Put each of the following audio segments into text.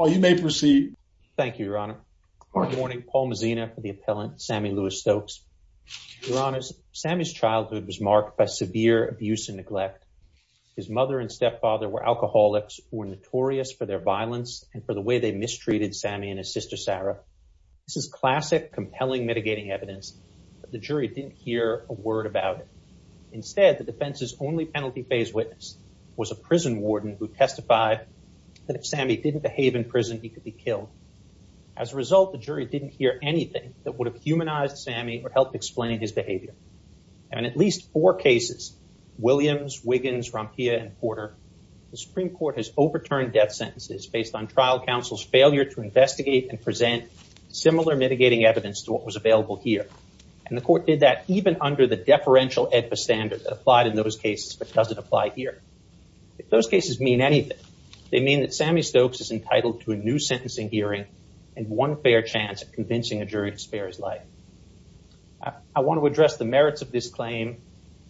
Oh, you may proceed. Thank you, Your Honor. Good morning. Paul Mazzina for the appellant, Sammie Lewis Stokes. Your Honor, Sammie's childhood was marked by severe abuse and neglect. His mother and stepfather were alcoholics, were notorious for their violence and for the way they mistreated Sammie and his sister, Sarah. This is classic, compelling, mitigating evidence, but the jury didn't hear a word about it. Instead, the defense's only penalty phase witness was a prison warden who testified that if Sammie didn't behave in prison, he could be killed. As a result, the jury didn't hear anything that would have humanized Sammie or helped explain his behavior. And in at least four cases, Williams, Wiggins, Rompia, and Porter, the Supreme Court has overturned death sentences based on trial counsel's failure to investigate and present similar mitigating evidence to what was available here. And the court did that even under the deferential EDFA standard that applied in those cases but doesn't apply here. If those cases mean anything, they mean that Sammie Stokes is entitled to a new sentencing hearing and one fair chance at convincing a jury to spare his life. I want to address the merits of this claim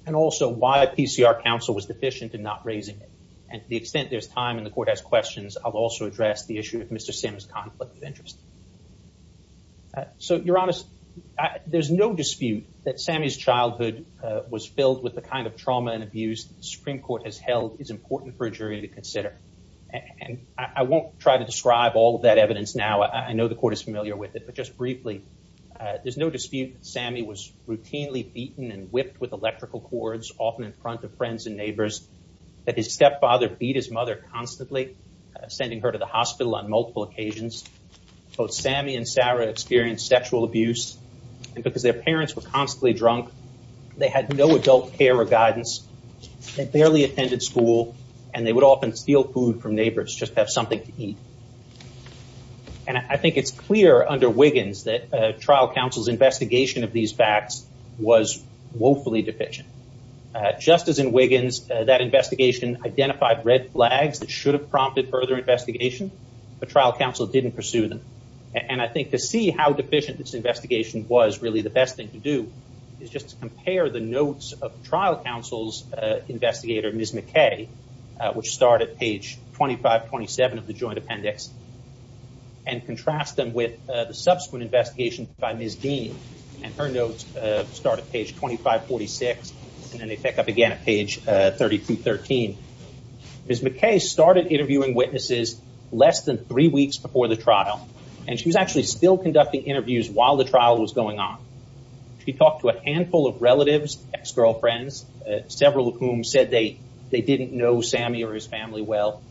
and also why a PCR counsel was deficient in not raising it. And to the extent there's time and the court has questions, I'll also address the issue of Mr. Sims' conflict of interest. So, Your Honor, there's no dispute that Sammie's childhood was filled with the kind of trauma and abuse the Supreme Court has held is important for a jury to consider. And I won't try to describe all of that evidence now. I know the court is familiar with it. But just briefly, there's no dispute that Sammie was routinely beaten and whipped with electrical cords, often in front of friends and neighbors, that his stepfather beat his mother constantly, sending her to the hospital. Sammie and Sarah experienced sexual abuse. And because their parents were constantly drunk, they had no adult care or guidance. They barely attended school. And they would often steal food from neighbors, just have something to eat. And I think it's clear under Wiggins that trial counsel's investigation of these facts was woefully deficient. Just as in Wiggins, that investigation identified red flags that should have prompted further investigation, but trial counsel didn't pursue them. And I think to see how deficient this investigation was, really, the best thing to do is just to compare the notes of trial counsel's investigator, Ms. McKay, which start at page 2527 of the joint appendix, and contrast them with the subsequent investigation by Ms. Dean. And her notes start at page 2546, and then they pick up at page 3213. Ms. McKay started interviewing witnesses less than three weeks before the trial, and she was actually still conducting interviews while the trial was going on. She talked to a handful of relatives, ex-girlfriends, several of whom said they didn't know Sammie or his family well.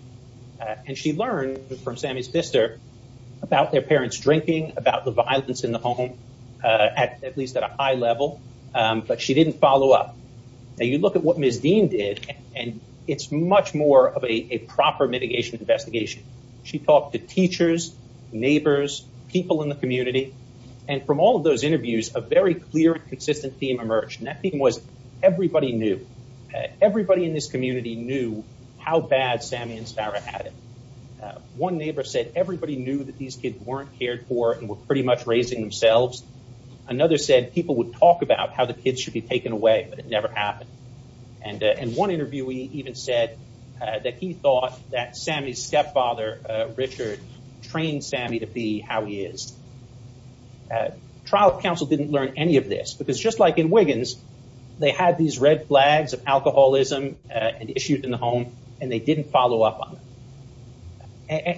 And she learned from Sammie's sister about their parents drinking, about the violence in the home, at least at a high level, but she didn't follow up. Now, you look at what Ms. Dean did, and it's much more of a proper mitigation investigation. She talked to teachers, neighbors, people in the community, and from all of those interviews, a very clear and consistent theme emerged. And that theme was, everybody knew. Everybody in this community knew how bad Sammie and Sarah had it. One neighbor said everybody knew that these kids weren't cared for and were pretty much raising themselves. Another said people would talk about how the kids should be taken away, but it never happened. And one interviewee even said that he thought that Sammie's stepfather, Richard, trained Sammie to be how he is. Trial counsel didn't learn any of this, because just like in Wiggins, they had these red flags of alcoholism issued in the home, and they didn't follow up on it.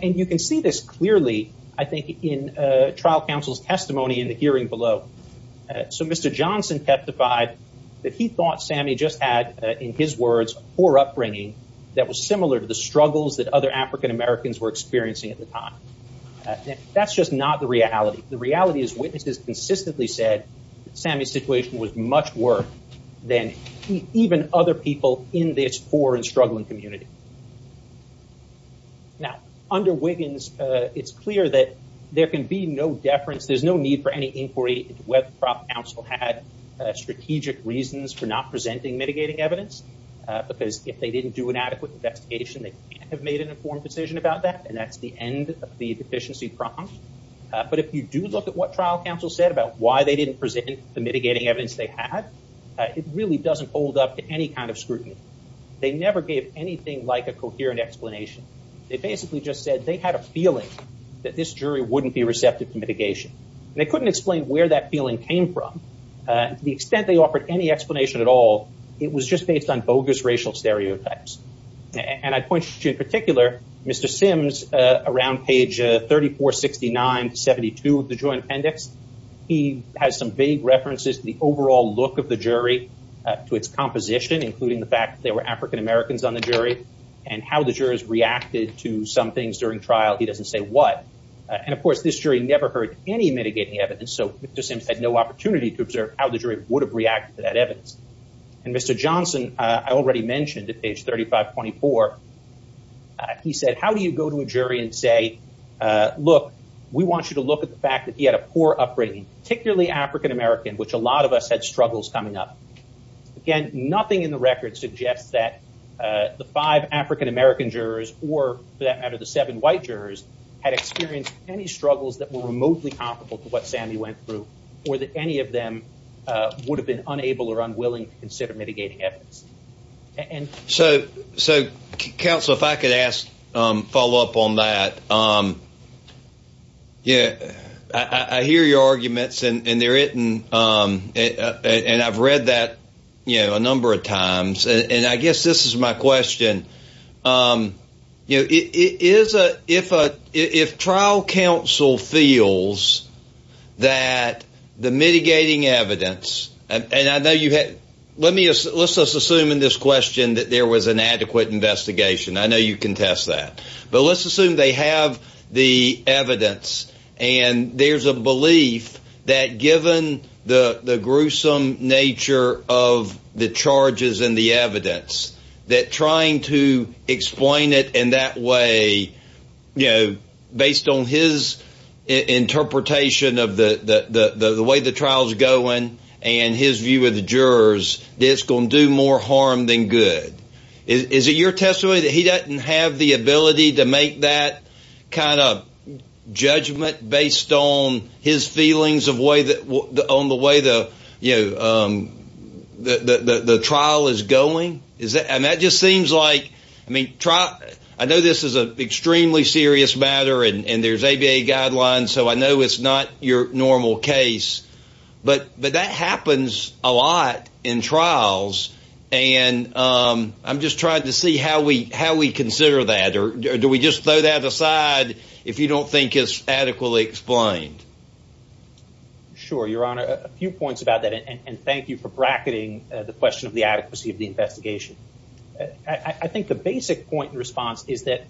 And you can see this clearly, I think, in trial counsel's testimony in the hearing below. So Mr. Johnson testified that he thought Sammie just had, in his words, poor upbringing that was similar to the struggles that other African Americans were experiencing at the time. That's just not the reality. The reality is witnesses consistently said that Sammie's situation was much worse than even other people in this poor and struggling community. Now, under Wiggins, it's clear that there can be no deference. There's no need for any inquiry counsel had strategic reasons for not presenting mitigating evidence, because if they didn't do an adequate investigation, they can't have made an informed decision about that, and that's the end of the deficiency prompt. But if you do look at what trial counsel said about why they didn't present the mitigating evidence they had, it really doesn't hold up to any kind of scrutiny. They never gave anything like a coherent explanation. They basically just said they had a feeling that this jury wouldn't be receptive to mitigation. And they couldn't explain where that feeling came from. To the extent they offered any explanation at all, it was just based on bogus racial stereotypes. And I'd point you in particular, Mr. Sims, around page 3469-72 of the joint appendix, he has some vague references to the overall look of the jury, to its composition, including the fact that there were African Americans on the jury, and how the jurors reacted to some things during trial. He doesn't say what. And of course, this jury never heard any mitigating evidence, so Mr. Sims had no opportunity to observe how the jury would have reacted to that evidence. And Mr. Johnson, I already mentioned at page 3524, he said, how do you go to a jury and say, look, we want you to look at the fact that he had a poor upbringing, particularly African American, which a lot of us had struggles coming up. Again, nothing in the record suggests that the five African American jurors, or for that matter, the seven white jurors, had experienced any struggles that were remotely comparable to what Sammy went through, or that any of them would have been unable or unwilling to consider mitigating evidence. And so, so counsel, if I could ask, follow up on that. Yeah, I hear your arguments, and they're written. And I've read that, you know, a number of times. And I guess this is my question. Um, you know, it is a if a if trial counsel feels that the mitigating evidence, and I know you had, let me, let's let's assume in this question that there was an adequate investigation, I know you can test that. But let's assume they have the evidence. And there's a belief that given the the gruesome nature of the charges and the evidence, that trying to explain it in that way, you know, based on his interpretation of the way the trial is going, and his view of the jurors, it's going to do more harm than good. Is it your testimony that he doesn't have the the on the way the, you know, the trial is going? Is that and that just seems like, I mean, try, I know, this is a extremely serious matter. And there's ABA guidelines. So I know, it's not your normal case. But But that happens a lot in trials. And I'm just trying to see how we how we consider that? Or do we just throw that aside? If you don't think it's adequately explained? Sure, Your Honor, a few points about that. And thank you for bracketing the question of the adequacy of the investigation. I think the basic point in response is that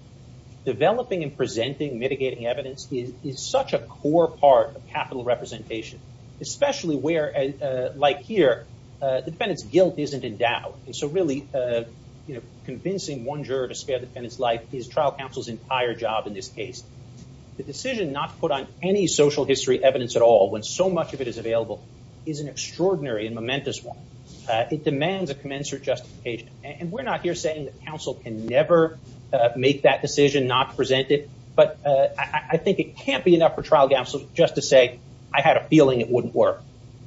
developing and presenting mitigating evidence is such a core part of capital representation, especially where, like here, the defendant's guilt isn't in doubt. And so really, you know, convincing one juror to spare the defendant's life is trial counsel's entire job. In this case, the decision not to put on any social history evidence at all, when so much of it is available, is an extraordinary and momentous one. It demands a commensurate justification. And we're not here saying that counsel can never make that decision not to present it. But I think it can't be enough for trial counsel just to say, I had a feeling it wouldn't work.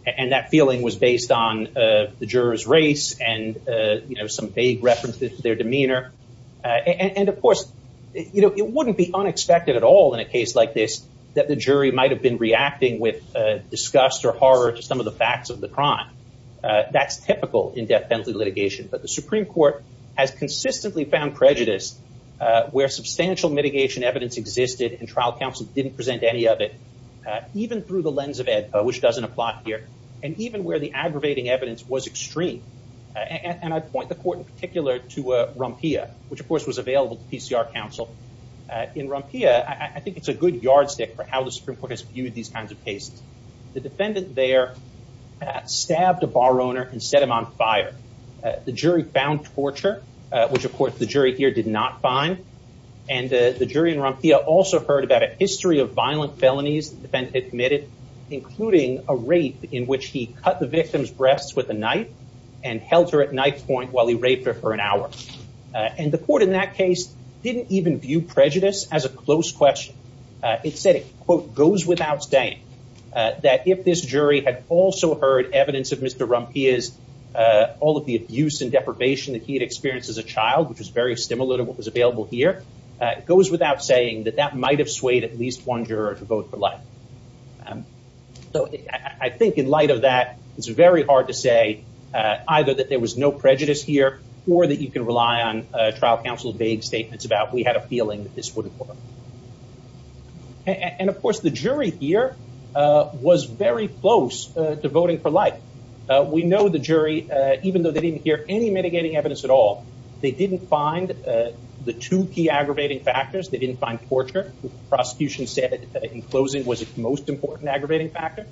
And that feeling was based on the jurors race and, you know, some vague reference to their demeanor. And of course, you know, it wouldn't be unexpected at all in a case like this that the jury might have been reacting with disgust or horror to some of the facts of the crime. That's typical in death penalty litigation. But the Supreme Court has consistently found prejudice where substantial mitigation evidence existed and trial counsel didn't present any of it, even through the lens of EDPA, which doesn't apply here, and even where the aggravating evidence was extreme. And I point the court in particular to Rumpia, which of course was available to PCR counsel. In Rumpia, I think it's a good yardstick for how the Supreme Court has viewed these kinds of cases. The defendant there stabbed a bar owner and set him on fire. The jury found torture, which of course the jury here did not find. And the jury in Rumpia also heard about a history of violent felonies the defendant admitted, including a rape in which he cut the victim's knife and held her at knife point while he raped her for an hour. And the court in that case didn't even view prejudice as a close question. It said it, quote, goes without saying that if this jury had also heard evidence of Mr. Rumpia's, all of the abuse and deprivation that he had experienced as a child, which was very similar to what was available here, it goes without saying that that might have swayed at least one juror to vote for life. So I think in light of that, it's very hard to say either that there was no prejudice here or that you can rely on trial counsel vague statements about we had a feeling that this wouldn't work. And of course, the jury here was very close to voting for life. We know the jury, even though they didn't hear any mitigating evidence at all, they didn't find the two key aggravating factors. They didn't find torture. The prosecution said that in closing was the most important aggravating factor.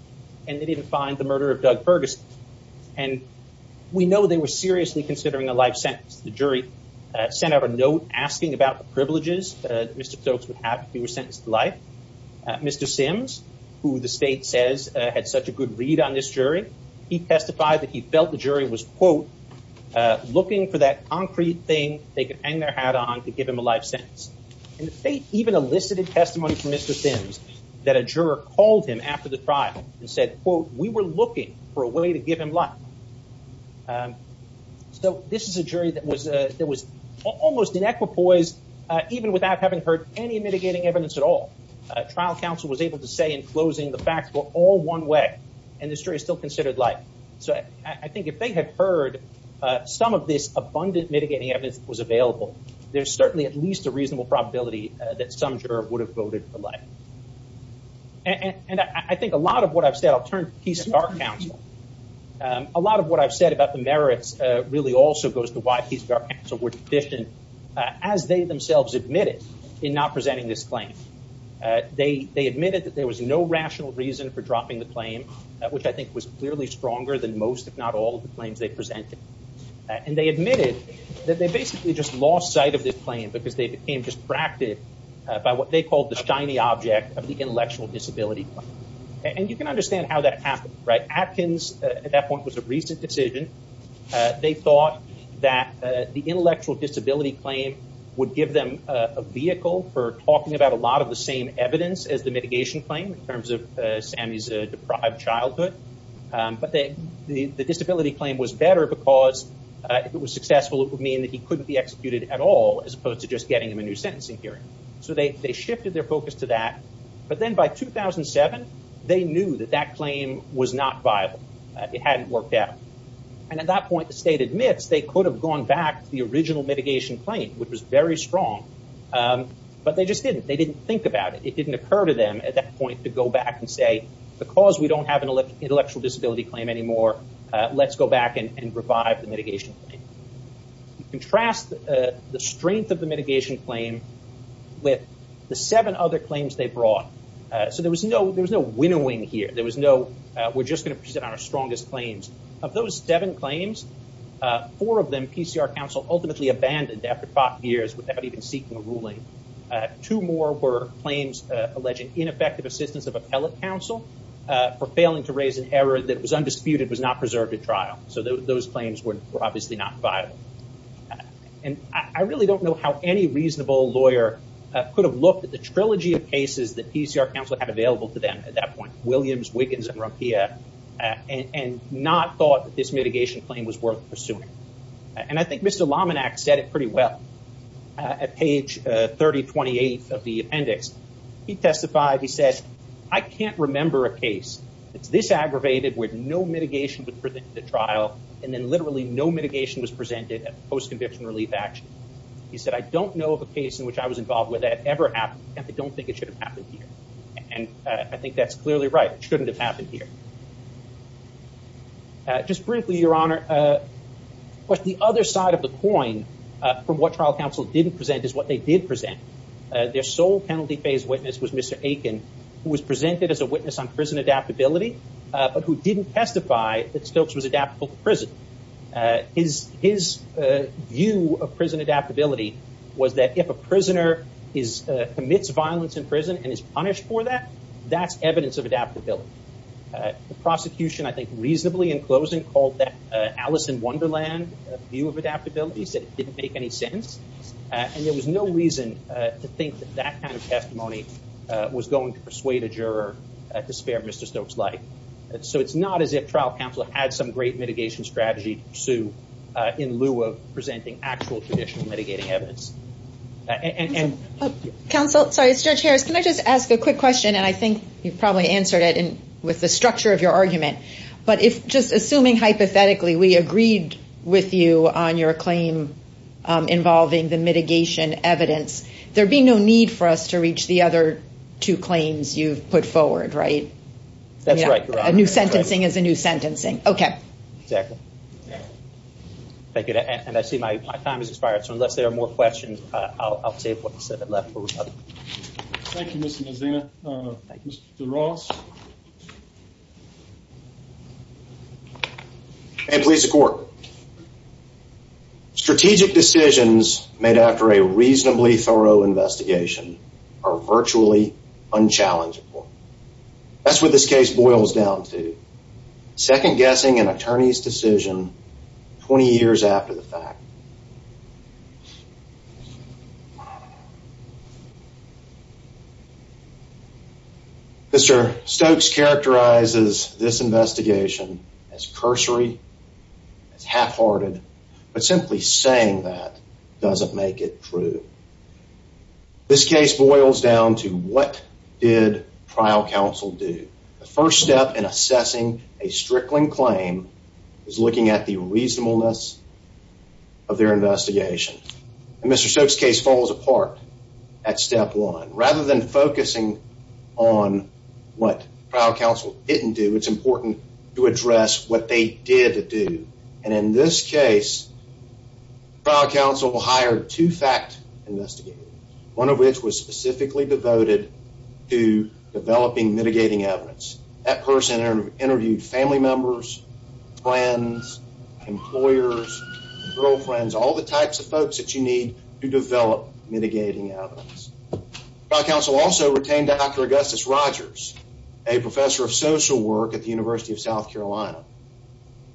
And they didn't find the murder of Doug Ferguson. And we know they were seriously considering a life sentence. The jury sent out a note asking about the privileges that Mr. Stokes would have if he were sentenced to life. Mr. Sims, who the state says had such a good read on this jury, he testified that he felt the jury was, quote, looking for that concrete thing they could hang their hat on to give him a life sentence. And the state even elicited testimony from Mr. Sims that a juror called him after the trial and said, quote, we were looking for a way to give him life. So this is a jury that was almost in equipoise, even without having heard any mitigating evidence at all. Trial counsel was able to say in closing the facts were all one way, and the jury still considered life. So I think if they had heard some of this abundant mitigating evidence that was available, there's certainly at least a reasonable probability that some juror would have voted for life. And I think a lot of what I've said, I'll turn to Peace Corps counsel. A lot of what I've said about the merits really also goes to why Peace Corps counsel were deficient, as they themselves admitted in not presenting this claim. They admitted that there was no rational reason for dropping the claim, which I think was clearly stronger than most, if not all, of the claims they presented. And they admitted that they basically just lost sight of this claim because they became distracted by what they called the shiny object of the intellectual disability claim. And you can understand how that happened, right? Atkins, at that point, was a recent decision. They thought that the intellectual disability claim would give them a vehicle for talking about a lot of the same evidence as the mitigation claim in terms of Sammy's deprived childhood. But the disability claim was better because if it was as opposed to just getting him a new sentencing hearing. So they shifted their focus to that. But then by 2007, they knew that that claim was not viable. It hadn't worked out. And at that point, the state admits they could have gone back to the original mitigation claim, which was very strong. But they just didn't. They didn't think about it. It didn't occur to them at that point to go back and say, because we don't have an intellectual disability claim anymore, let's go the strength of the mitigation claim with the seven other claims they brought. So there was no winnowing here. There was no, we're just going to present our strongest claims. Of those seven claims, four of them, PCR counsel ultimately abandoned after five years without even seeking a ruling. Two more were claims alleging ineffective assistance of appellate counsel for failing to raise an error that was undisputed, was not preserved at trial. So those claims were obviously not viable. And I really don't know how any reasonable lawyer could have looked at the trilogy of cases that PCR counsel had available to them at that point, Williams, Wiggins, and Rumpia, and not thought that this mitigation claim was worth pursuing. And I think Mr. Lominax said it pretty well. At page 3028 of the appendix, he testified, he says, I can't remember a case that's this aggravated where no mitigation was presented at trial, and then literally no mitigation was presented at post-conviction relief action. He said, I don't know of a case in which I was involved where that ever happened, and I don't think it should have happened here. And I think that's clearly right. It shouldn't have happened here. Just briefly, Your Honor, but the other side of the coin from what trial counsel didn't present is what they did present. Their sole penalty phase witness was Mr. Aiken, who was presented as a witness on prison adaptability, but who didn't testify that Stokes was adaptable to prison. His view of prison adaptability was that if a prisoner commits violence in prison and is punished for that, that's evidence of adaptability. The prosecution, I think reasonably in closing, called that Alice in Wonderland view of adaptability, said it didn't make any sense. And there was no reason to think that that kind of testimony was going to persuade a juror to spare Mr. Stokes' life. So it's not as if trial counsel had some great mitigation strategy to pursue in lieu of presenting actual traditional mitigating evidence. Counsel, sorry, Judge Harris, can I just ask a quick question? And I think you've probably answered it with the structure of your argument. But just assuming hypothetically we agreed with you on your claim involving the mitigation evidence, there'd be no need for us to reach the other two claims you've put forward, right? That's right, Your Honor. A new sentencing is a new sentencing. Okay. Exactly. Thank you. And I see my time has expired. So unless there are more questions, I'll take what's left. Thank you, Mr. Mazina. Mr. Ross? May it please the Court. Strategic decisions made after a reasonably thorough investigation are virtually unchallengable. That's what this case boils down to. Second guessing an attorney's decision 20 years after the fact. Mr. Stokes characterizes this investigation as cursory, as half-hearted, but simply saying that doesn't make it true. This case boils down to what did trial counsel do? The first step in assessing a Strickland claim is looking at the reasonableness of their investigation. And Mr. Stokes' case falls apart at step one. Rather than focusing on what trial counsel didn't do, it's important to address what they did do. And in this case, trial counsel hired two fact investigators, one of which was specifically devoted to developing mitigating evidence. That person interviewed family members, friends, employers, girlfriends, all the types of folks that you need to develop mitigating evidence. Trial counsel also retained Dr. Augustus Rogers, a professor of social work at the University of South Carolina.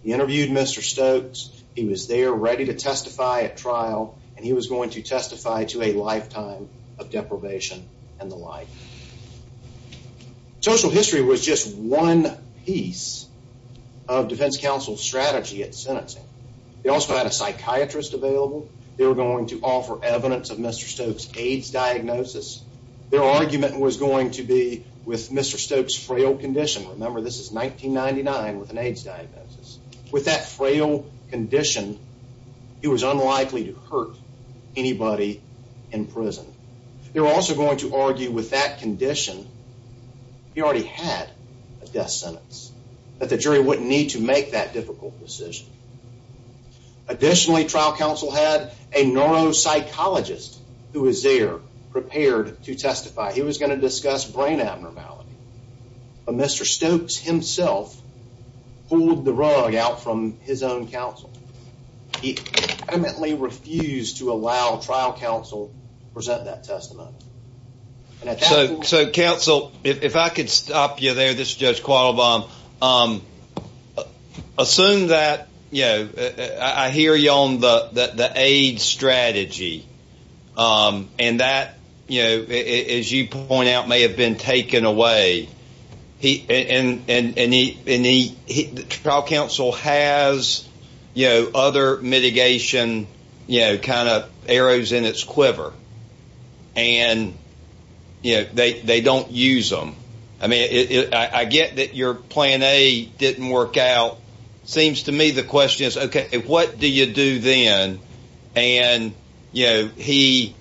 He interviewed Mr. Stokes. He was there ready to testify at trial, and he was going to testify to a lifetime of deprivation and the like. Social history was just one piece of defense counsel's strategy at sentencing. They also had a psychiatrist available. They were going to offer evidence of Mr. Stokes' AIDS diagnosis. Their argument was going to be with Mr. Stokes' frail condition. Remember, this is 1999 with an AIDS diagnosis. With that frail condition, he was unlikely to hurt anybody in prison. They were also going to argue with that condition, he already had a death sentence, that the jury wouldn't need to make that difficult decision. Additionally, trial counsel had a neuropsychologist who was there prepared to testify. He was going to discuss brain abnormality. But Mr. Stokes himself pulled the rug out from his own counsel. He vehemently refused to allow trial counsel to present that testimony. And so counsel, if I could stop you there, this is Judge Quattlebaum. Assume that, you know, I hear you on the AIDS strategy. And that, you know, as you point out, may have been taken away. And the trial counsel has, you know, other mitigation, you know, kind of arrows in its quiver. And, you know, they don't use them. I mean, I get that your plan A didn't work out. Seems to me the question is, okay, what do you do then? And, you know, he,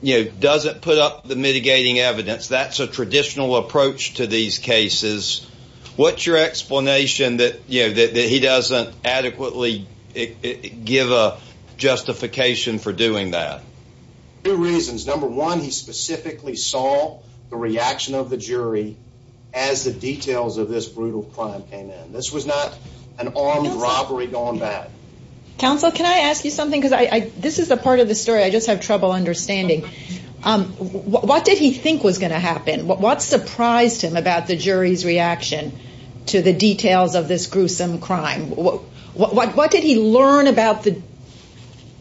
you know, doesn't put up the mitigating evidence. That's a traditional approach to these cases. What's your explanation that, you know, that he doesn't adequately give a justification for doing that? Two reasons. Number one, he specifically saw the reaction of the jury as the details of this brutal crime came in. This was not an armed robbery gone bad. Counsel, can I ask you something? Because I, this is a part of the story. I just have trouble understanding. What did he think was going to happen? What surprised him about the jury's reaction to the details of this gruesome crime? What did he learn about the,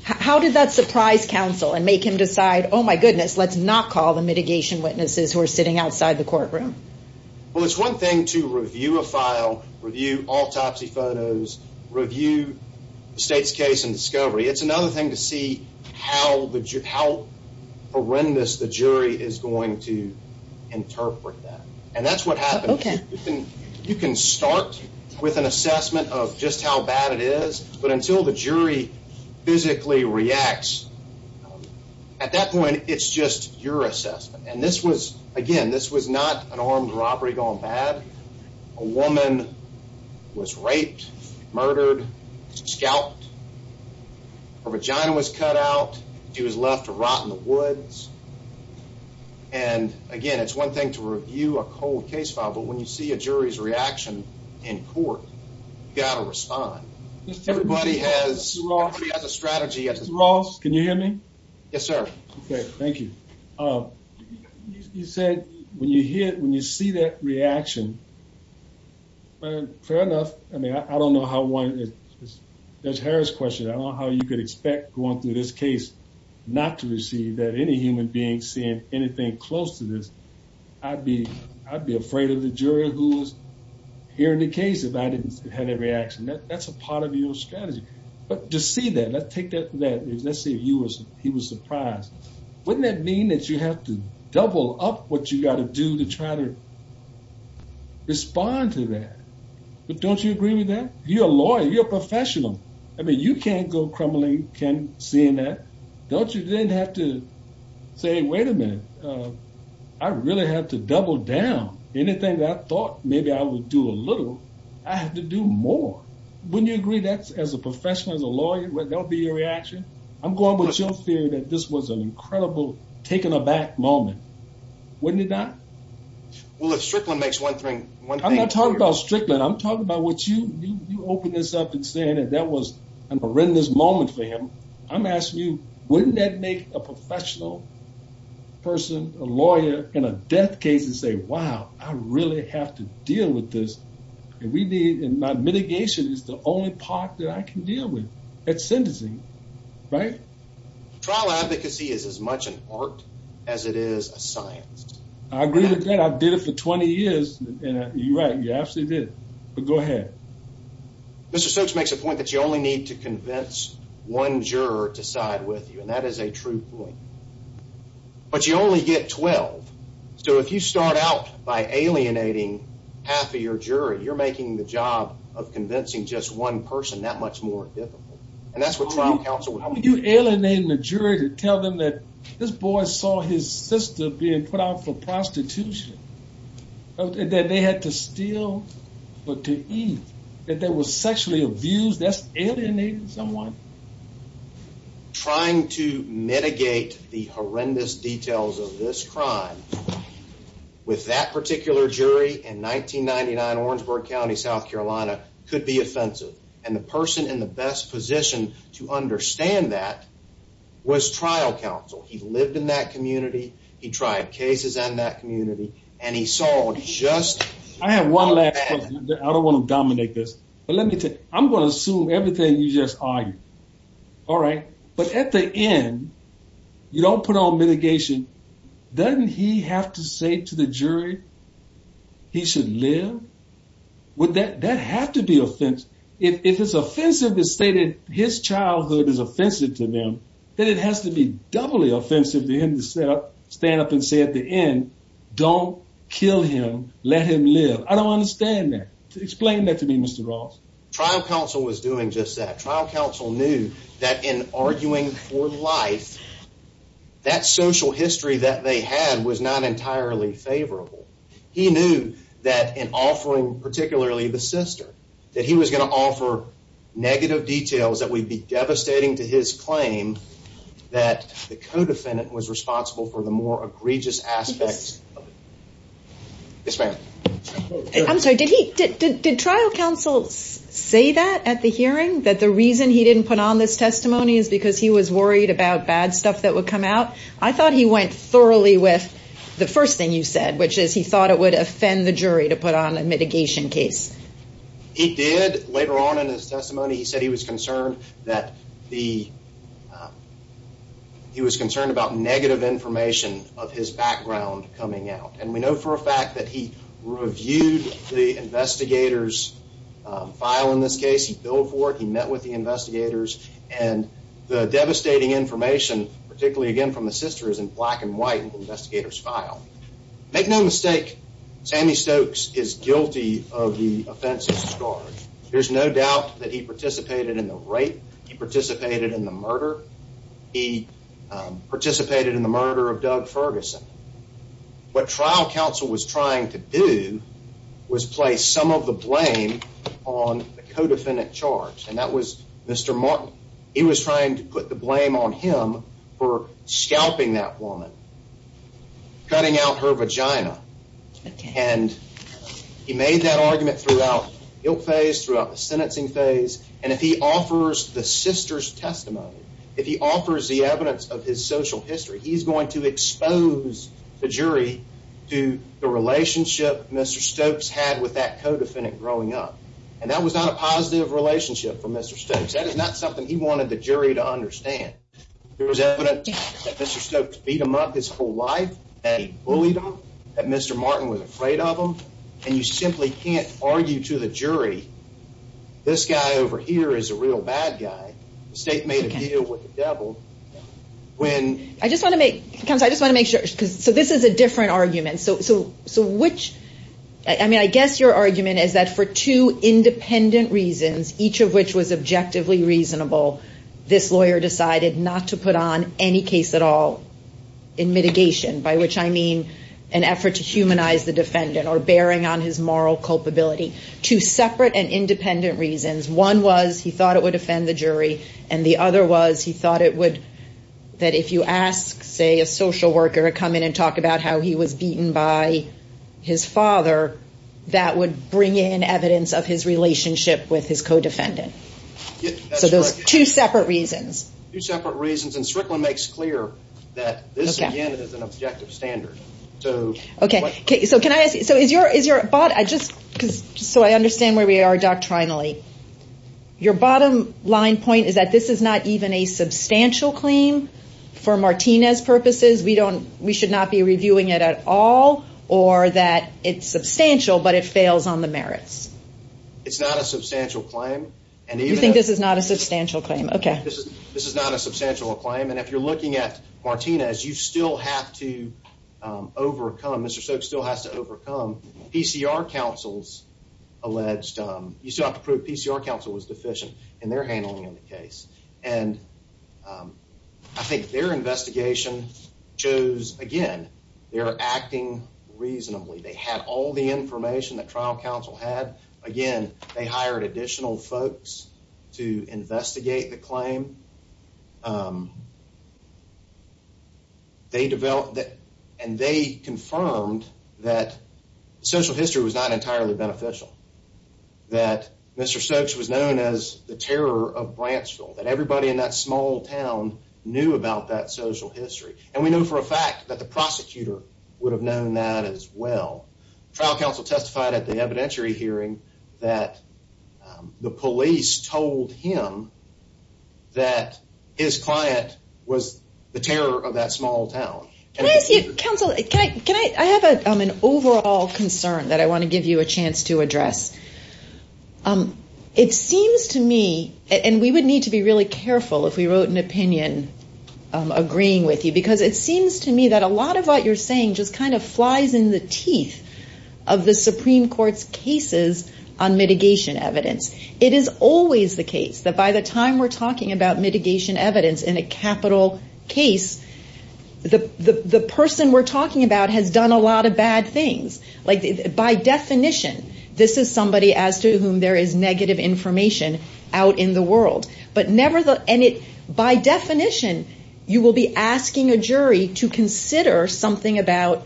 how did that surprise counsel and make him decide, oh my goodness, let's not call the mitigation witnesses who are sitting outside the courtroom? Well, it's one thing to review a file, review autopsy photos, review the state's case and interpret that. And that's what happened. You can start with an assessment of just how bad it is, but until the jury physically reacts, at that point, it's just your assessment. And this was, again, this was not an armed robbery gone bad. A woman was raped, murdered, scalped. Her vagina was cut out. She was left to rot in the woods. And again, it's one thing to review a cold case file, but when you see a jury's reaction in court, you got to respond. Everybody has a strategy. Mr. Ross, can you hear me? Yes, sir. Okay. Thank you. You said when you hear, reaction, fair enough. I mean, I don't know how one is. There's Harris question. I don't know how you could expect going through this case, not to receive that any human being seeing anything close to this. I'd be, I'd be afraid of the jury who's hearing the case. If I didn't have that reaction, that's a part of your strategy, but to see that, let's take that. That is, let's say you was, he was surprised. Wouldn't that mean that you have to double up what you got to do to try to respond to that? But don't you agree with that? You're a lawyer, you're a professional. I mean, you can't go crumbling, can't seeing that. Don't you then have to say, wait a minute. I really have to double down anything that I thought maybe I would do a little. I have to do more. Wouldn't you agree that as a professional, as a lawyer, that'll be your reaction? I'm going with your theory that this was an incredible taken aback moment. Wouldn't it not? Well, if Strickland makes one thing. I'm not talking about Strickland. I'm talking about what you, you open this up and saying that that was a horrendous moment for him. I'm asking you, wouldn't that make a professional person, a lawyer in a death case and say, wow, I really have to deal with this. And we need, and my mitigation is the only part that I can deal with at sentencing. Right. Trial advocacy is as much an art as it is a science. I agree with that. I've did it for 20 years and you're right, you absolutely did. But go ahead. Mr. Stokes makes a point that you only need to convince one juror to side with you. And that is a true point. But you only get 12. So if you start out by alienating half of your jury, you're making the job of convincing just one person that much more difficult. And that's what trial counsel would do. How would you alienate the jury to tell them that this boy saw his sister being put out for prostitution, that they had to steal, but to eat, that they were sexually abused, that's alienating someone. Trying to mitigate the horrendous details of this crime with that particular jury in 1999, Orangeburg County, South Carolina could be offensive. And the person in the best position to understand that was trial counsel. He lived in that community. He tried cases in that community and he saw just- I have one last question. I don't want to dominate this, but let me tell you, I'm going to assume everything you just argued. All right. But at the end, you don't put on mitigation. Doesn't he have to say to the jury he should live? Would that have to be offensive? If it's offensive to state that his childhood is offensive to them, then it has to be doubly offensive to him to stand up and say at the end, don't kill him, let him live. I don't understand that. Explain that to me, Mr. Ross. Trial counsel was doing just that. Trial counsel knew that in arguing for life, that social history that they had was not entirely favorable. He knew that in offering, particularly the sister, that he was going to offer negative details that would be devastating to his claim that the co-defendant was responsible for the more egregious aspects. Yes, ma'am. I'm sorry. Did he- did trial counsel say that at the hearing, that the reason he didn't put on this testimony is because he was worried about bad stuff that would come out? I thought he went thoroughly with the first thing you said, which is he thought it would offend the jury to put on a mitigation case. He did. Later on in his testimony, he said he was concerned that the- coming out. And we know for a fact that he reviewed the investigator's file in this case. He billed for it. He met with the investigators. And the devastating information, particularly again from the sister, is in black and white in the investigator's file. Make no mistake, Sammy Stokes is guilty of the offense of scourge. There's no doubt that he participated in the rape. He participated in the murder. He participated in the murder of Doug Ferguson. What trial counsel was trying to do was place some of the blame on the co-defendant charged. And that was Mr. Martin. He was trying to put the blame on him for scalping that woman, cutting out her vagina. And he made that argument throughout the guilt phase, throughout the sentencing phase. And if he offers the sister's testimony, if he offers the evidence of his social history, he's going to expose the jury to the relationship Mr. Stokes had with that co-defendant growing up. And that was not a positive relationship for Mr. Stokes. That is not something he wanted the jury to understand. There was evidence that Mr. Stokes beat him up his whole life, that he bullied him, that Mr. Martin was afraid of him. And you simply can't argue to the jury, this guy over here is a real bad guy. The state made a deal with the devil. I just want to make sure. So this is a different argument. So which, I mean, I guess your argument is that for two independent reasons, each of which was objectively reasonable, this lawyer decided not to put on any case at all in mitigation, by which I mean an effort to humanize the defendant or bearing on his moral culpability. Two separate and independent reasons. One was he thought it would offend the jury. And the other was he thought it would, that if you ask, say a social worker to come in and talk about how he was beaten by his father, that would bring in evidence of his relationship with his co-defendant. So those two separate reasons. Two separate reasons. And is your, is your, but I just, cause, so I understand where we are doctrinally. Your bottom line point is that this is not even a substantial claim for Martinez purposes. We don't, we should not be reviewing it at all or that it's substantial, but it fails on the merits. It's not a substantial claim. And you think this is not a substantial claim. Okay. This is, this is not a substantial claim. And if you're looking at Martinez, you still have to overcome PCR counsel's alleged, you still have to prove PCR counsel was deficient in their handling of the case. And I think their investigation shows, again, they're acting reasonably. They had all the information that trial counsel had. Again, they hired additional folks to investigate the claim. Um, they developed that and they confirmed that social history was not entirely beneficial. That Mr. Stokes was known as the terror of branch school, that everybody in that small town knew about that social history. And we know for a fact that the prosecutor would have known that as well. Trial counsel testified at the evidentiary hearing that the police told him that his client was the terror of that small town. Can I ask you counsel, can I, can I, I have an overall concern that I want to give you a chance to address. Um, it seems to me, and we would need to be really careful if we wrote an opinion, um, agreeing with you, because it seems to me that a lot of what you're saying just kind of flies in the teeth of the Supreme court's cases on mitigation evidence. It is always the case that by the time we're talking about mitigation evidence in a capital case, the, the, the person we're talking about has done a lot of bad things. Like by definition, this is somebody as to whom there is negative information out in the world, but never the, and it, by definition, you will be asking a jury to consider something about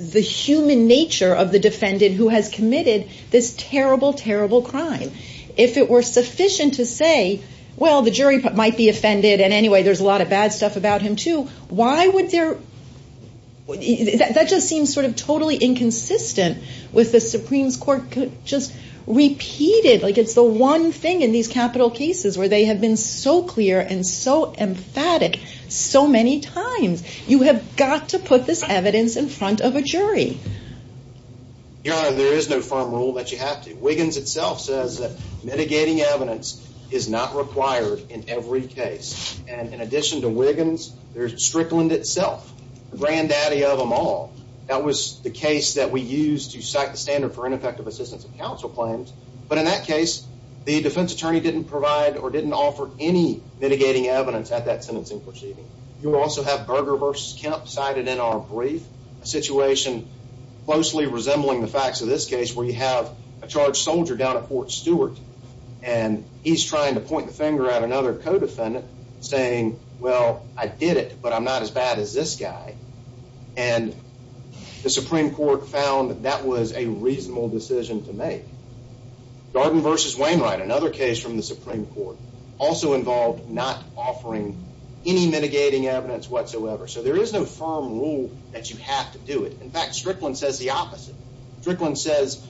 the human nature of the defendant who has committed this terrible, terrible crime. If it were sufficient to say, well, the jury might be offended. And anyway, there's a lot of bad stuff about him too. Why would there, that just seems sort of totally inconsistent with the Supreme court just repeated. Like it's the one thing in these capital cases where they have been so clear and so emphatic so many times you have got to put this evidence in front of a jury. Your honor, there is no firm rule that you have to. Wiggins itself says that mitigating evidence is not required in every case. And in addition to Wiggins, there's Strickland itself, the granddaddy of them all. That was the case that we use to cite the standard for ineffective assistance of counsel claims. But in that case, the defense attorney didn't provide or didn't also have Berger versus Kemp cited in our brief situation closely resembling the facts of this case where you have a charged soldier down at Fort Stewart and he's trying to point the finger at another codefendant saying, well, I did it, but I'm not as bad as this guy. And the Supreme court found that that was a reasonable decision to make. Garden versus Wainwright, another case from the So there is no firm rule that you have to do it. In fact, Strickland says the opposite. Strickland says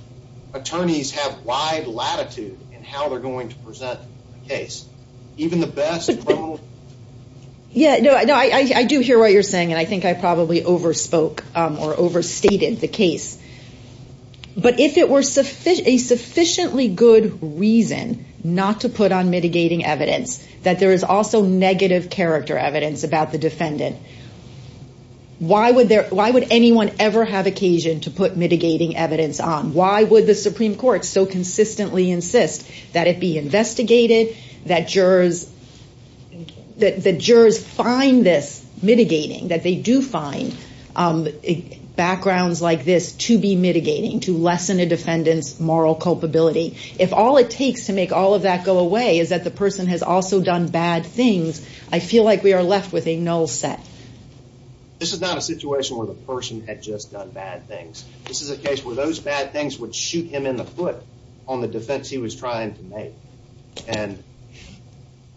attorneys have wide latitude in how they're going to present the case. Yeah, no, I do hear what you're saying. And I think I probably overspoke or overstated the case. But if it were a sufficiently good reason not to put on mitigating evidence, that there is also negative character evidence about the defendant. Why would anyone ever have occasion to put mitigating evidence on? Why would the Supreme court so consistently insist that it be investigated, that jurors find this mitigating, that they do find backgrounds like this to be mitigating, to lessen a defendant's moral culpability? If all it takes to make all of that go away is that the person has also done bad things, I feel like we are left with a null set. This is not a situation where the person had just done bad things. This is a case where those bad things would shoot him in the foot on the defense he was trying to make. And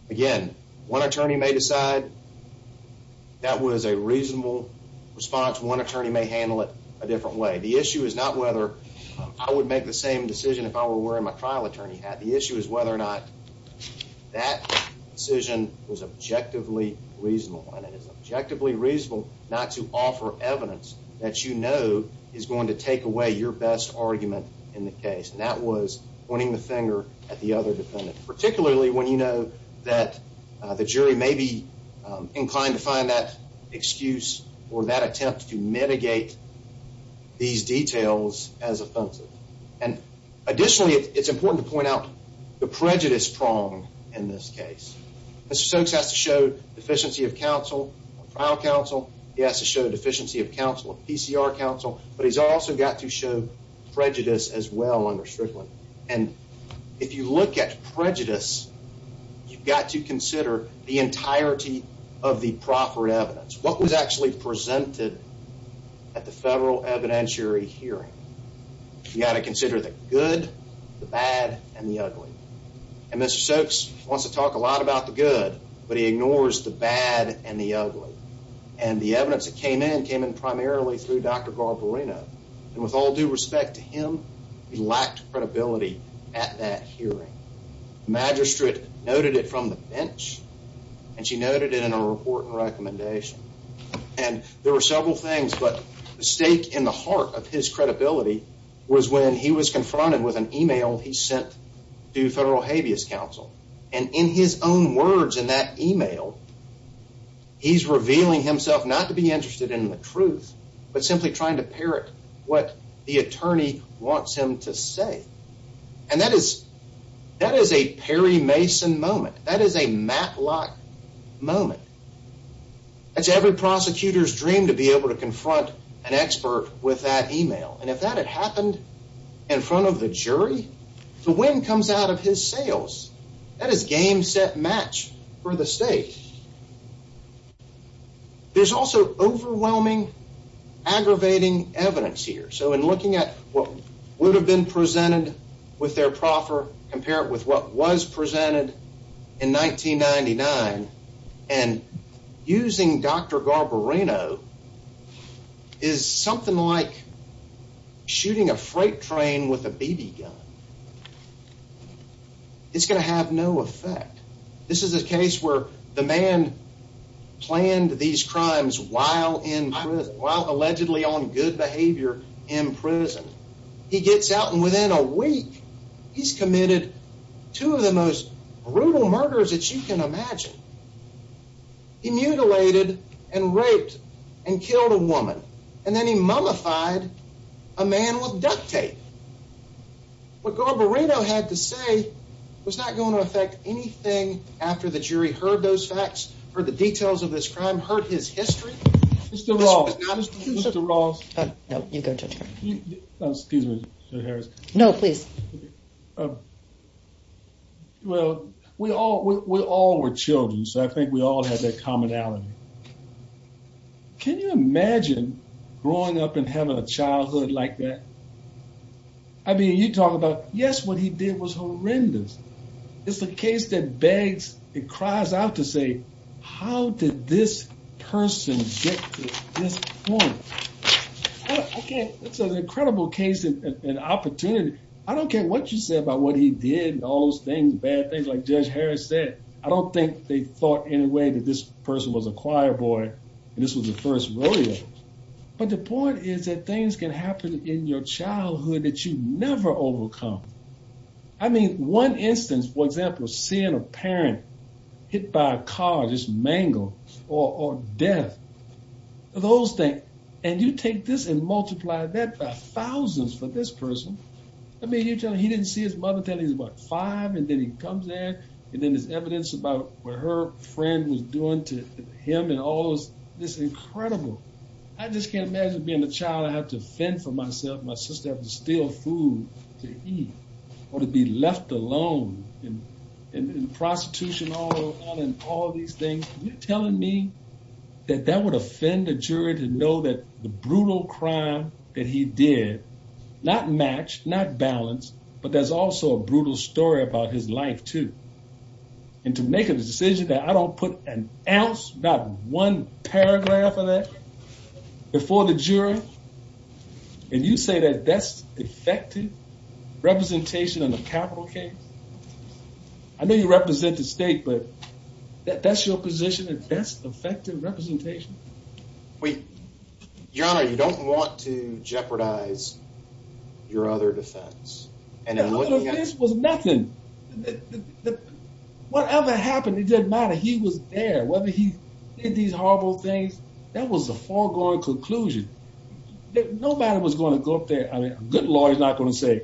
again, one attorney may decide that was a reasonable response. One decision, if I were wearing my trial attorney hat, the issue is whether or not that decision was objectively reasonable. And it is objectively reasonable not to offer evidence that you know is going to take away your best argument in the case. And that was pointing the finger at the other defendant, particularly when you know that the jury may be inclined to find that or that attempt to mitigate these details as offensive. And additionally, it is important to point out the prejudice prong in this case. Mr. Stokes has to show deficiency of counsel or trial counsel. He has to show deficiency of counsel or PCR counsel. But he has also got to show prejudice as well under Strickland. And if you look at prejudice, you have got to consider the entirety of the proper evidence. What was actually presented at the federal evidentiary hearing? You have got to consider the good, the bad, and the ugly. And Mr. Stokes wants to talk a lot about the good, but he ignores the bad and the ugly. And the evidence that came in, came in primarily through Dr. Garbarino. And with all due respect to him, he lacked credibility at that hearing. The magistrate noted it from the bench, and she noted it in her report and recommendation. And there were several things, but the stake in the heart of his credibility was when he was confronted with an email he sent to federal habeas counsel. And in his own words in that email, he is revealing himself not to be interested in the truth, but simply trying to That is a Perry Mason moment. That is a Matlock moment. That's every prosecutor's dream to be able to confront an expert with that email. And if that had happened in front of the jury, the wind comes out of his sails. That is game, set, match for the state. There's also overwhelming, aggravating evidence here. So in looking at what would have been presented with their proffer, compare it with what was presented in 1999 and using Dr. Garbarino is something like shooting a freight train with a BB gun. It's gonna have no effect. This is a case where the man planned these crimes while in prison, while allegedly on good behavior in prison. He gets out, and within a week he's committed two of the most brutal murders that you can imagine. He mutilated and raped and killed a woman, and then he mummified a man with duct tape. What Garbarino had to say was not going to affect anything after the jury heard those facts or the details of this crime hurt his history. Mr. Ross. No, you go, Judge Harris. Excuse me, Judge Harris. No, please. Well, we all were children, so I think we all had that commonality. Can you imagine growing up and having a childhood like that? I mean, you talk about, yes, what he did was horrendous. It's a case that begs and cries out to say, how did this person get to this point? It's an incredible case and opportunity. I don't care what you say about what he did and all those things, bad things, like Judge Harris said. I don't think they thought in a way that this person was a choir boy and this was the first rodeo. But the point is that things can happen in your childhood that you never overcome. I mean, one instance, for example, seeing a parent hit by a car, just mangled, or death, those things. And you take this and multiply that by thousands for this person. I mean, you tell him he didn't see his mother until he was about five, and then he comes there, and then there's evidence about what her friend was doing to him, and all this is incredible. I just can't imagine being a child. I have to fend for myself. My sister has to steal food to eat or to be left alone in prostitution and all these things. You're telling me that that would offend a jury to know that the brutal crime that he did, not matched, not balanced, but there's also a brutal story about his life too. And to make a decision that I don't put an representation in the capital case. I know you represent the state, but that's your position, and that's effective representation. Your Honor, you don't want to jeopardize your other defense. The other defense was nothing. Whatever happened, it didn't matter. He was there. Whether he did these horrible things, that was a foregoing conclusion. Nobody was going to go up there. I mean, a good lawyer is not going to say,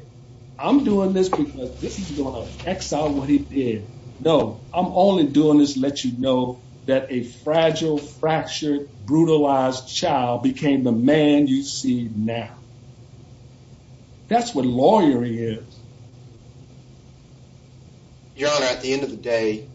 I'm doing this because this is going to exile what he did. No, I'm only doing this to let you know that a fragile, fractured, brutalized child became the man you see now. That's what lawyering is. Your Honor, at the end of the day,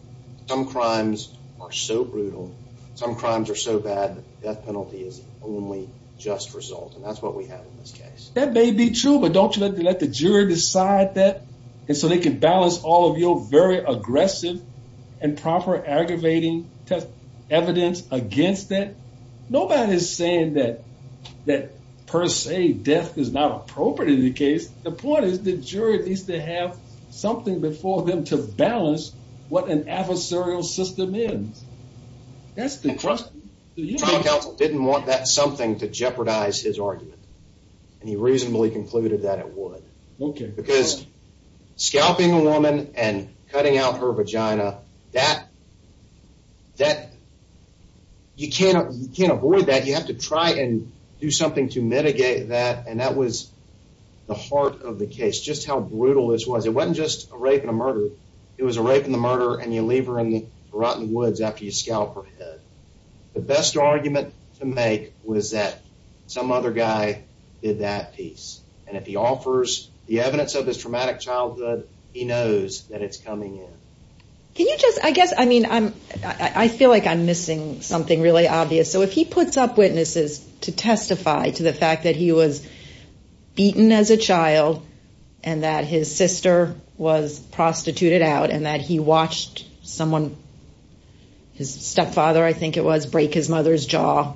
some crimes are so brutal, some crimes are so bad, death penalty is only just result. And that's what we have in this case. That may be true, but don't you let the jury decide that? And so they can balance all of your very aggressive and proper aggravating evidence against that? Nobody's saying that per se, death is not appropriate in the case. The point is the jury needs to have something before them to balance what an adversarial system is. The trial counsel didn't want that something to jeopardize his argument, and he reasonably concluded that it would. Because scalping a woman and cutting out her vagina, you can't avoid that. You have to try and do something to mitigate that. And that was the heart of the case, just how brutal this was. It wasn't just a rape and a murder. It was a rape and a murder, and you leave her in the rotten woods after you scalp her head. The best argument to make was that some other guy did that piece. And if he offers the evidence of his traumatic childhood, he knows that it's coming in. Can you just, I guess, I mean, I feel like I'm beaten as a child, and that his sister was prostituted out, and that he watched someone, his stepfather, I think it was, break his mother's jaw.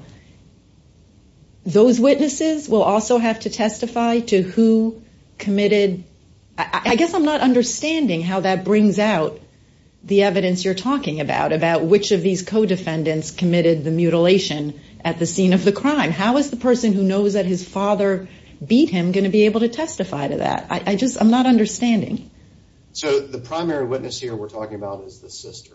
Those witnesses will also have to testify to who committed, I guess I'm not understanding how that brings out the evidence you're talking about, about which of these co-defendants committed the mutilation at the scene of the crime. How is the father beat him going to be able to testify to that? I just, I'm not understanding. So the primary witness here we're talking about is the sister.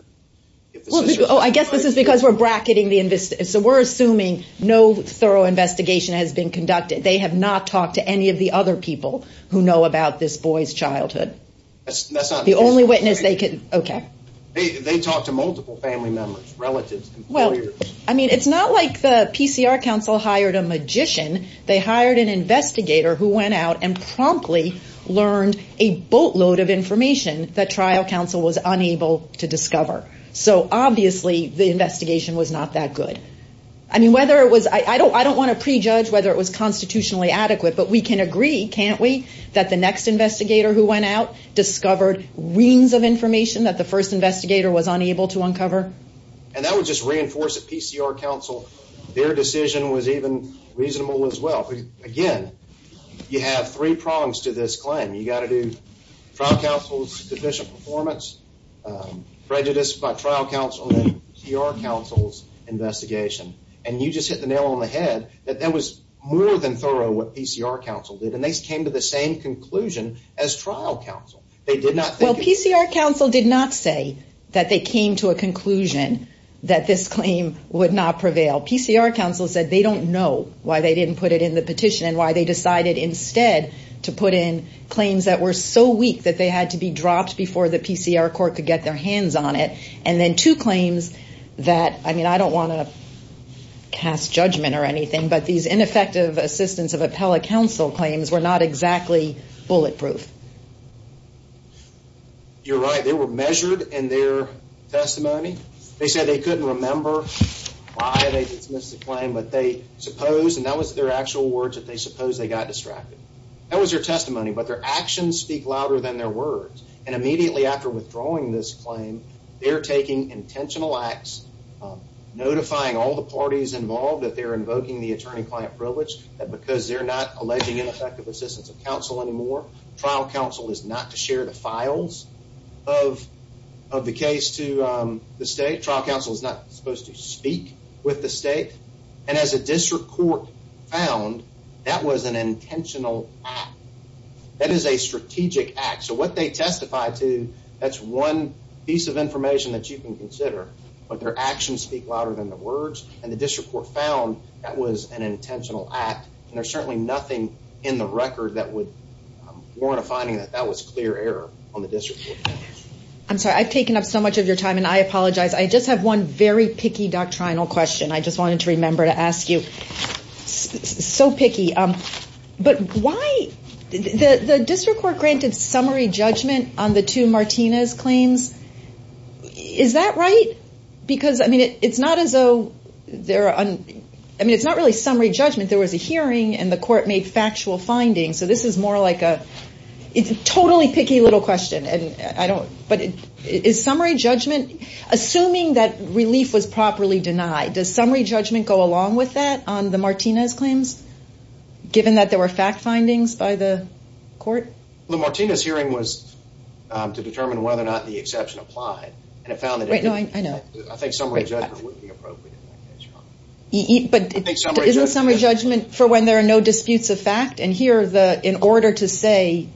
Oh, I guess this is because we're bracketing the investigation. So we're assuming no thorough investigation has been conducted. They have not talked to any of the other people who know about this boy's childhood. The only witness they could, okay. They talked to multiple family members, relatives, employers. I mean, it's not like the PCR council hired a magician. They hired an investigator who went out and promptly learned a boatload of information that trial council was unable to discover. So obviously the investigation was not that good. I mean, whether it was, I don't want to prejudge whether it was constitutionally adequate, but we can agree, can't we, that the next investigator who went out discovered reams of information that the counsel, their decision was even reasonable as well. Again, you have three prongs to this claim. You got to do trial counsel's deficient performance, prejudice by trial counsel, then your counsel's investigation. And you just hit the nail on the head that that was more than thorough what PCR council did. And they came to the same conclusion as trial council. Well, PCR council did not say that they came to a conclusion that this claim would not prevail. PCR council said they don't know why they didn't put it in the petition and why they decided instead to put in claims that were so weak that they had to be dropped before the PCR court could get their hands on it. And then two claims that, I mean, I don't want to cast judgment or anything, but these ineffective assistance of appellate counsel claims were not exactly bulletproof. You're right. They were measured in their testimony. They said they couldn't remember why they dismissed the claim, but they supposed, and that was their actual words, that they suppose they got distracted. That was their testimony, but their actions speak louder than their words. And immediately after withdrawing this claim, they're taking intentional acts, notifying all the parties involved that they're invoking the attorney-client privilege, that because they're not alleging ineffective assistance of counsel anymore, trial counsel is not to share the files of the case to the state. Trial counsel is not supposed to speak with the state. And as a district court found, that was an intentional act. That is a strategic act. So what they testify to, that's one piece of information that you can consider, but their actions speak louder than their words. And the district court found that was an intentional act. And there's certainly nothing in the record that would warrant a finding that that was clear error on the district court. I'm sorry, I've taken up so much of your time and I apologize. I just have one very picky doctrinal question I just wanted to remember to ask you. So picky, but why, the district court granted summary judgment on the two Martinez claims. Is that right? Because I mean, it's not as though they're, I mean, it's not really summary judgment. There was a hearing and the court made factual findings. So this is more like a, it's a totally picky little question. And I don't, but is summary judgment, assuming that relief was properly denied, does summary judgment go along with that on the Martinez claims, given that there were fact findings by the court? Well, the Martinez hearing was to determine whether or not the exception applied. And it found that I think summary judgment would be appropriate. But isn't summary judgment for when there are no disputes of fact. And here the, in order to say,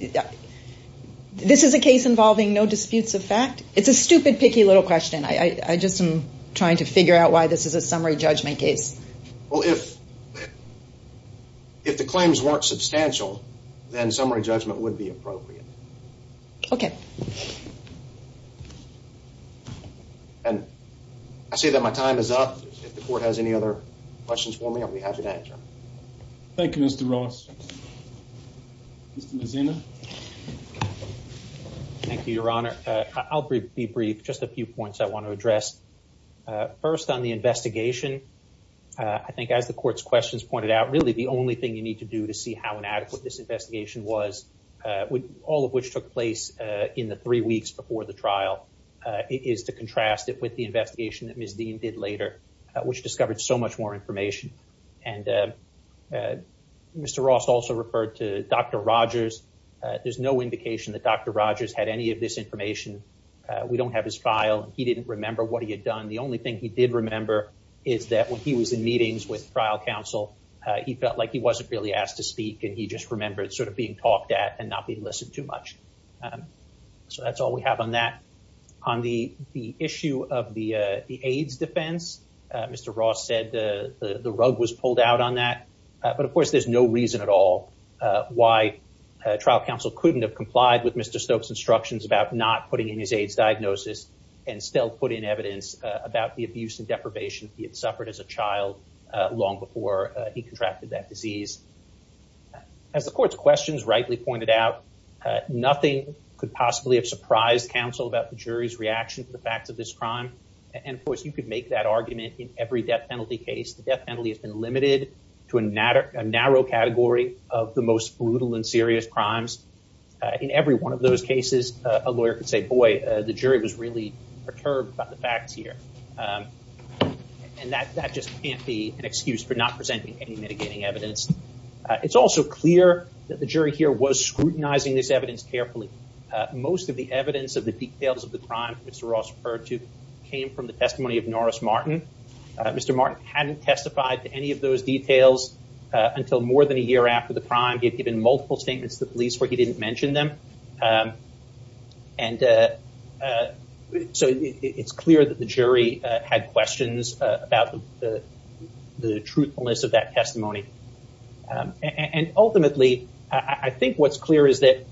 this is a case involving no disputes of fact. It's a stupid, picky little question. I just am trying to figure out why this is a summary judgment case. Well, if, if the claims weren't substantial, then summary judgment would be appropriate. Okay. And I see that my time is up. If the court has any other questions for me, I'll be happy to answer. Thank you, Mr. Ross. Mr. Mazino. Thank you, Your Honor. I'll be brief. Just a few points I want to address. First on the investigation. I think as the court's questions pointed out, really the only thing you need to do to see how inadequate this investigation was all of which took place in the three weeks before the trial, is to contrast it with the investigation that Ms. Dean did later, which discovered so much more information. And Mr. Ross also referred to Dr. Rogers. There's no indication that Dr. Rogers had any of this information. We don't have his file. He didn't remember what he had done. The only thing he did remember is that when he was in meetings with trial counsel, he felt like he wasn't really talked at and not being listened to much. So that's all we have on that. On the issue of the AIDS defense, Mr. Ross said the rug was pulled out on that. But of course, there's no reason at all why trial counsel couldn't have complied with Mr. Stokes' instructions about not putting in his AIDS diagnosis and still put in evidence about the abuse and deprivation he suffered as a child long before he contracted that disease. As the court's questions rightly pointed out, nothing could possibly have surprised counsel about the jury's reaction to the facts of this crime. And of course, you could make that argument in every death penalty case. The death penalty has been limited to a narrow category of the most brutal and serious crimes. In every one of those cases, a lawyer could say, boy, the jury was really perturbed by the facts here. And that just can't be an excuse for not presenting any mitigating evidence. It's also clear that the jury here was scrutinizing this evidence carefully. Most of the evidence of the details of the crime Mr. Ross referred to came from the testimony of Norris Martin. Mr. Martin hadn't testified to any of those details until more than a year after the crime. He had given multiple statements to the police where he didn't mention them. And so it's clear that the jury had questions about the truthfulness of that testimony. And ultimately, I think what's clear is that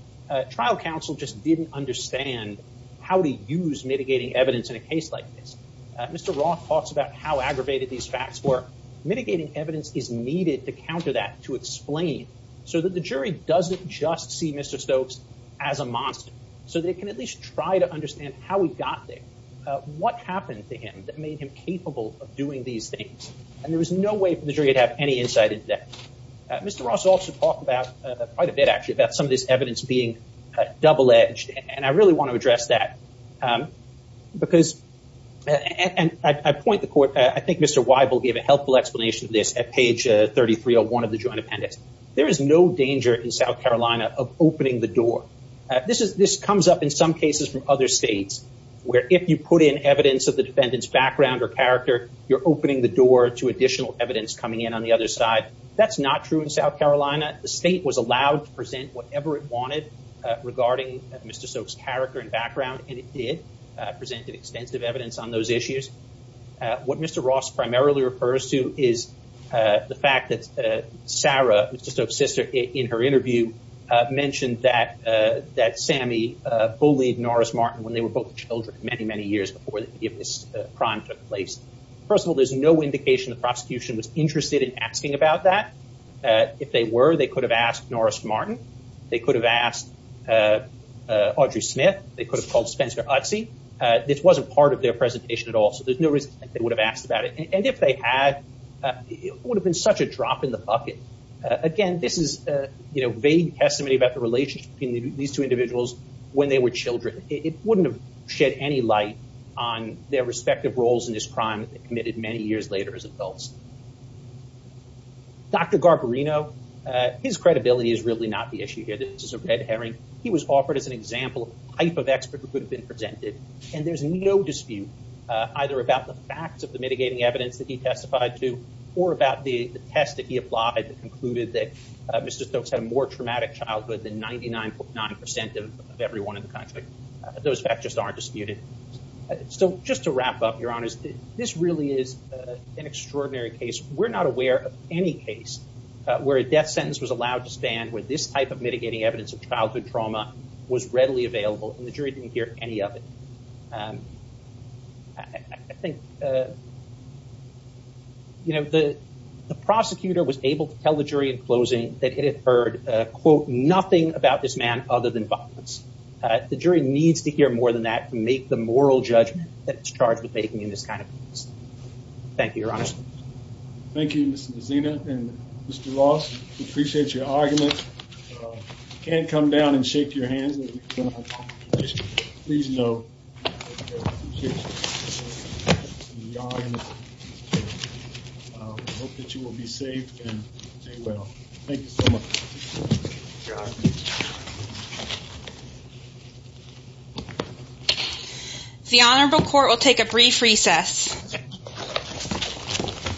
trial counsel just didn't understand how to use mitigating evidence in a case like this. Mr. Ross talks about how aggravated these facts were. Mitigating evidence is needed to counter that, to explain, so that the jury doesn't just see Mr. Stokes as a monster, so they can at least try to understand how he got there. What happened to him that made him capable of doing these things? And there was no way for the jury to have any insight into that. Mr. Ross also talked about, quite a bit actually, about some of this evidence being double-edged. And I really want to address that. Because, and I point the court, I think Mr. Weibel gave a helpful explanation of this at page 3301 of the joint appendix. There is no danger in South Carolina of opening the door. This comes up in some cases from other states, where if you put in evidence of the defendant's background or character, you're opening the door to additional evidence coming in on the other side. That's not true in South Carolina. The state was allowed to present whatever it wanted regarding Mr. Stokes' character and background, and it did present extensive evidence on those issues. What Mr. Sarah, Mr. Stokes' sister, in her interview mentioned that Sammy bullied Norris Martin when they were both children many, many years before this crime took place. First of all, there's no indication the prosecution was interested in asking about that. If they were, they could have asked Norris Martin. They could have asked Audrey Smith. They could have called Spencer Utze. This wasn't part of their presentation at all, so there's no reason they would have asked about it. If they had, it would have been such a drop in the bucket. Again, this is vague testimony about the relationship between these two individuals when they were children. It wouldn't have shed any light on their respective roles in this crime that they committed many years later as adults. Dr. Garbarino, his credibility is really not the issue here. This is a red herring. He was offered as an example of a type of expert who could have and there's no dispute either about the facts of the mitigating evidence that he testified to or about the test that he applied that concluded that Mr. Stokes had a more traumatic childhood than 99.9% of everyone in the country. Those facts just aren't disputed. So just to wrap up, Your Honor, this really is an extraordinary case. We're not aware of any case where a death sentence was allowed to stand, where this type of mitigating evidence of childhood trauma was readily available and the jury didn't hear any of it. I think, you know, the prosecutor was able to tell the jury in closing that it had heard, quote, nothing about this man other than violence. The jury needs to hear more than that to make the moral judgment that it's charged with making in this kind of case. Thank you, Your Honor. Thank you, Ms. Mazzina and Mr. Ross. We appreciate your argument. Can't come down and shake your hands. Please know. Hope that you will be safe and well. Thank you so much. The Honorable Court will take a brief recess. Thank you.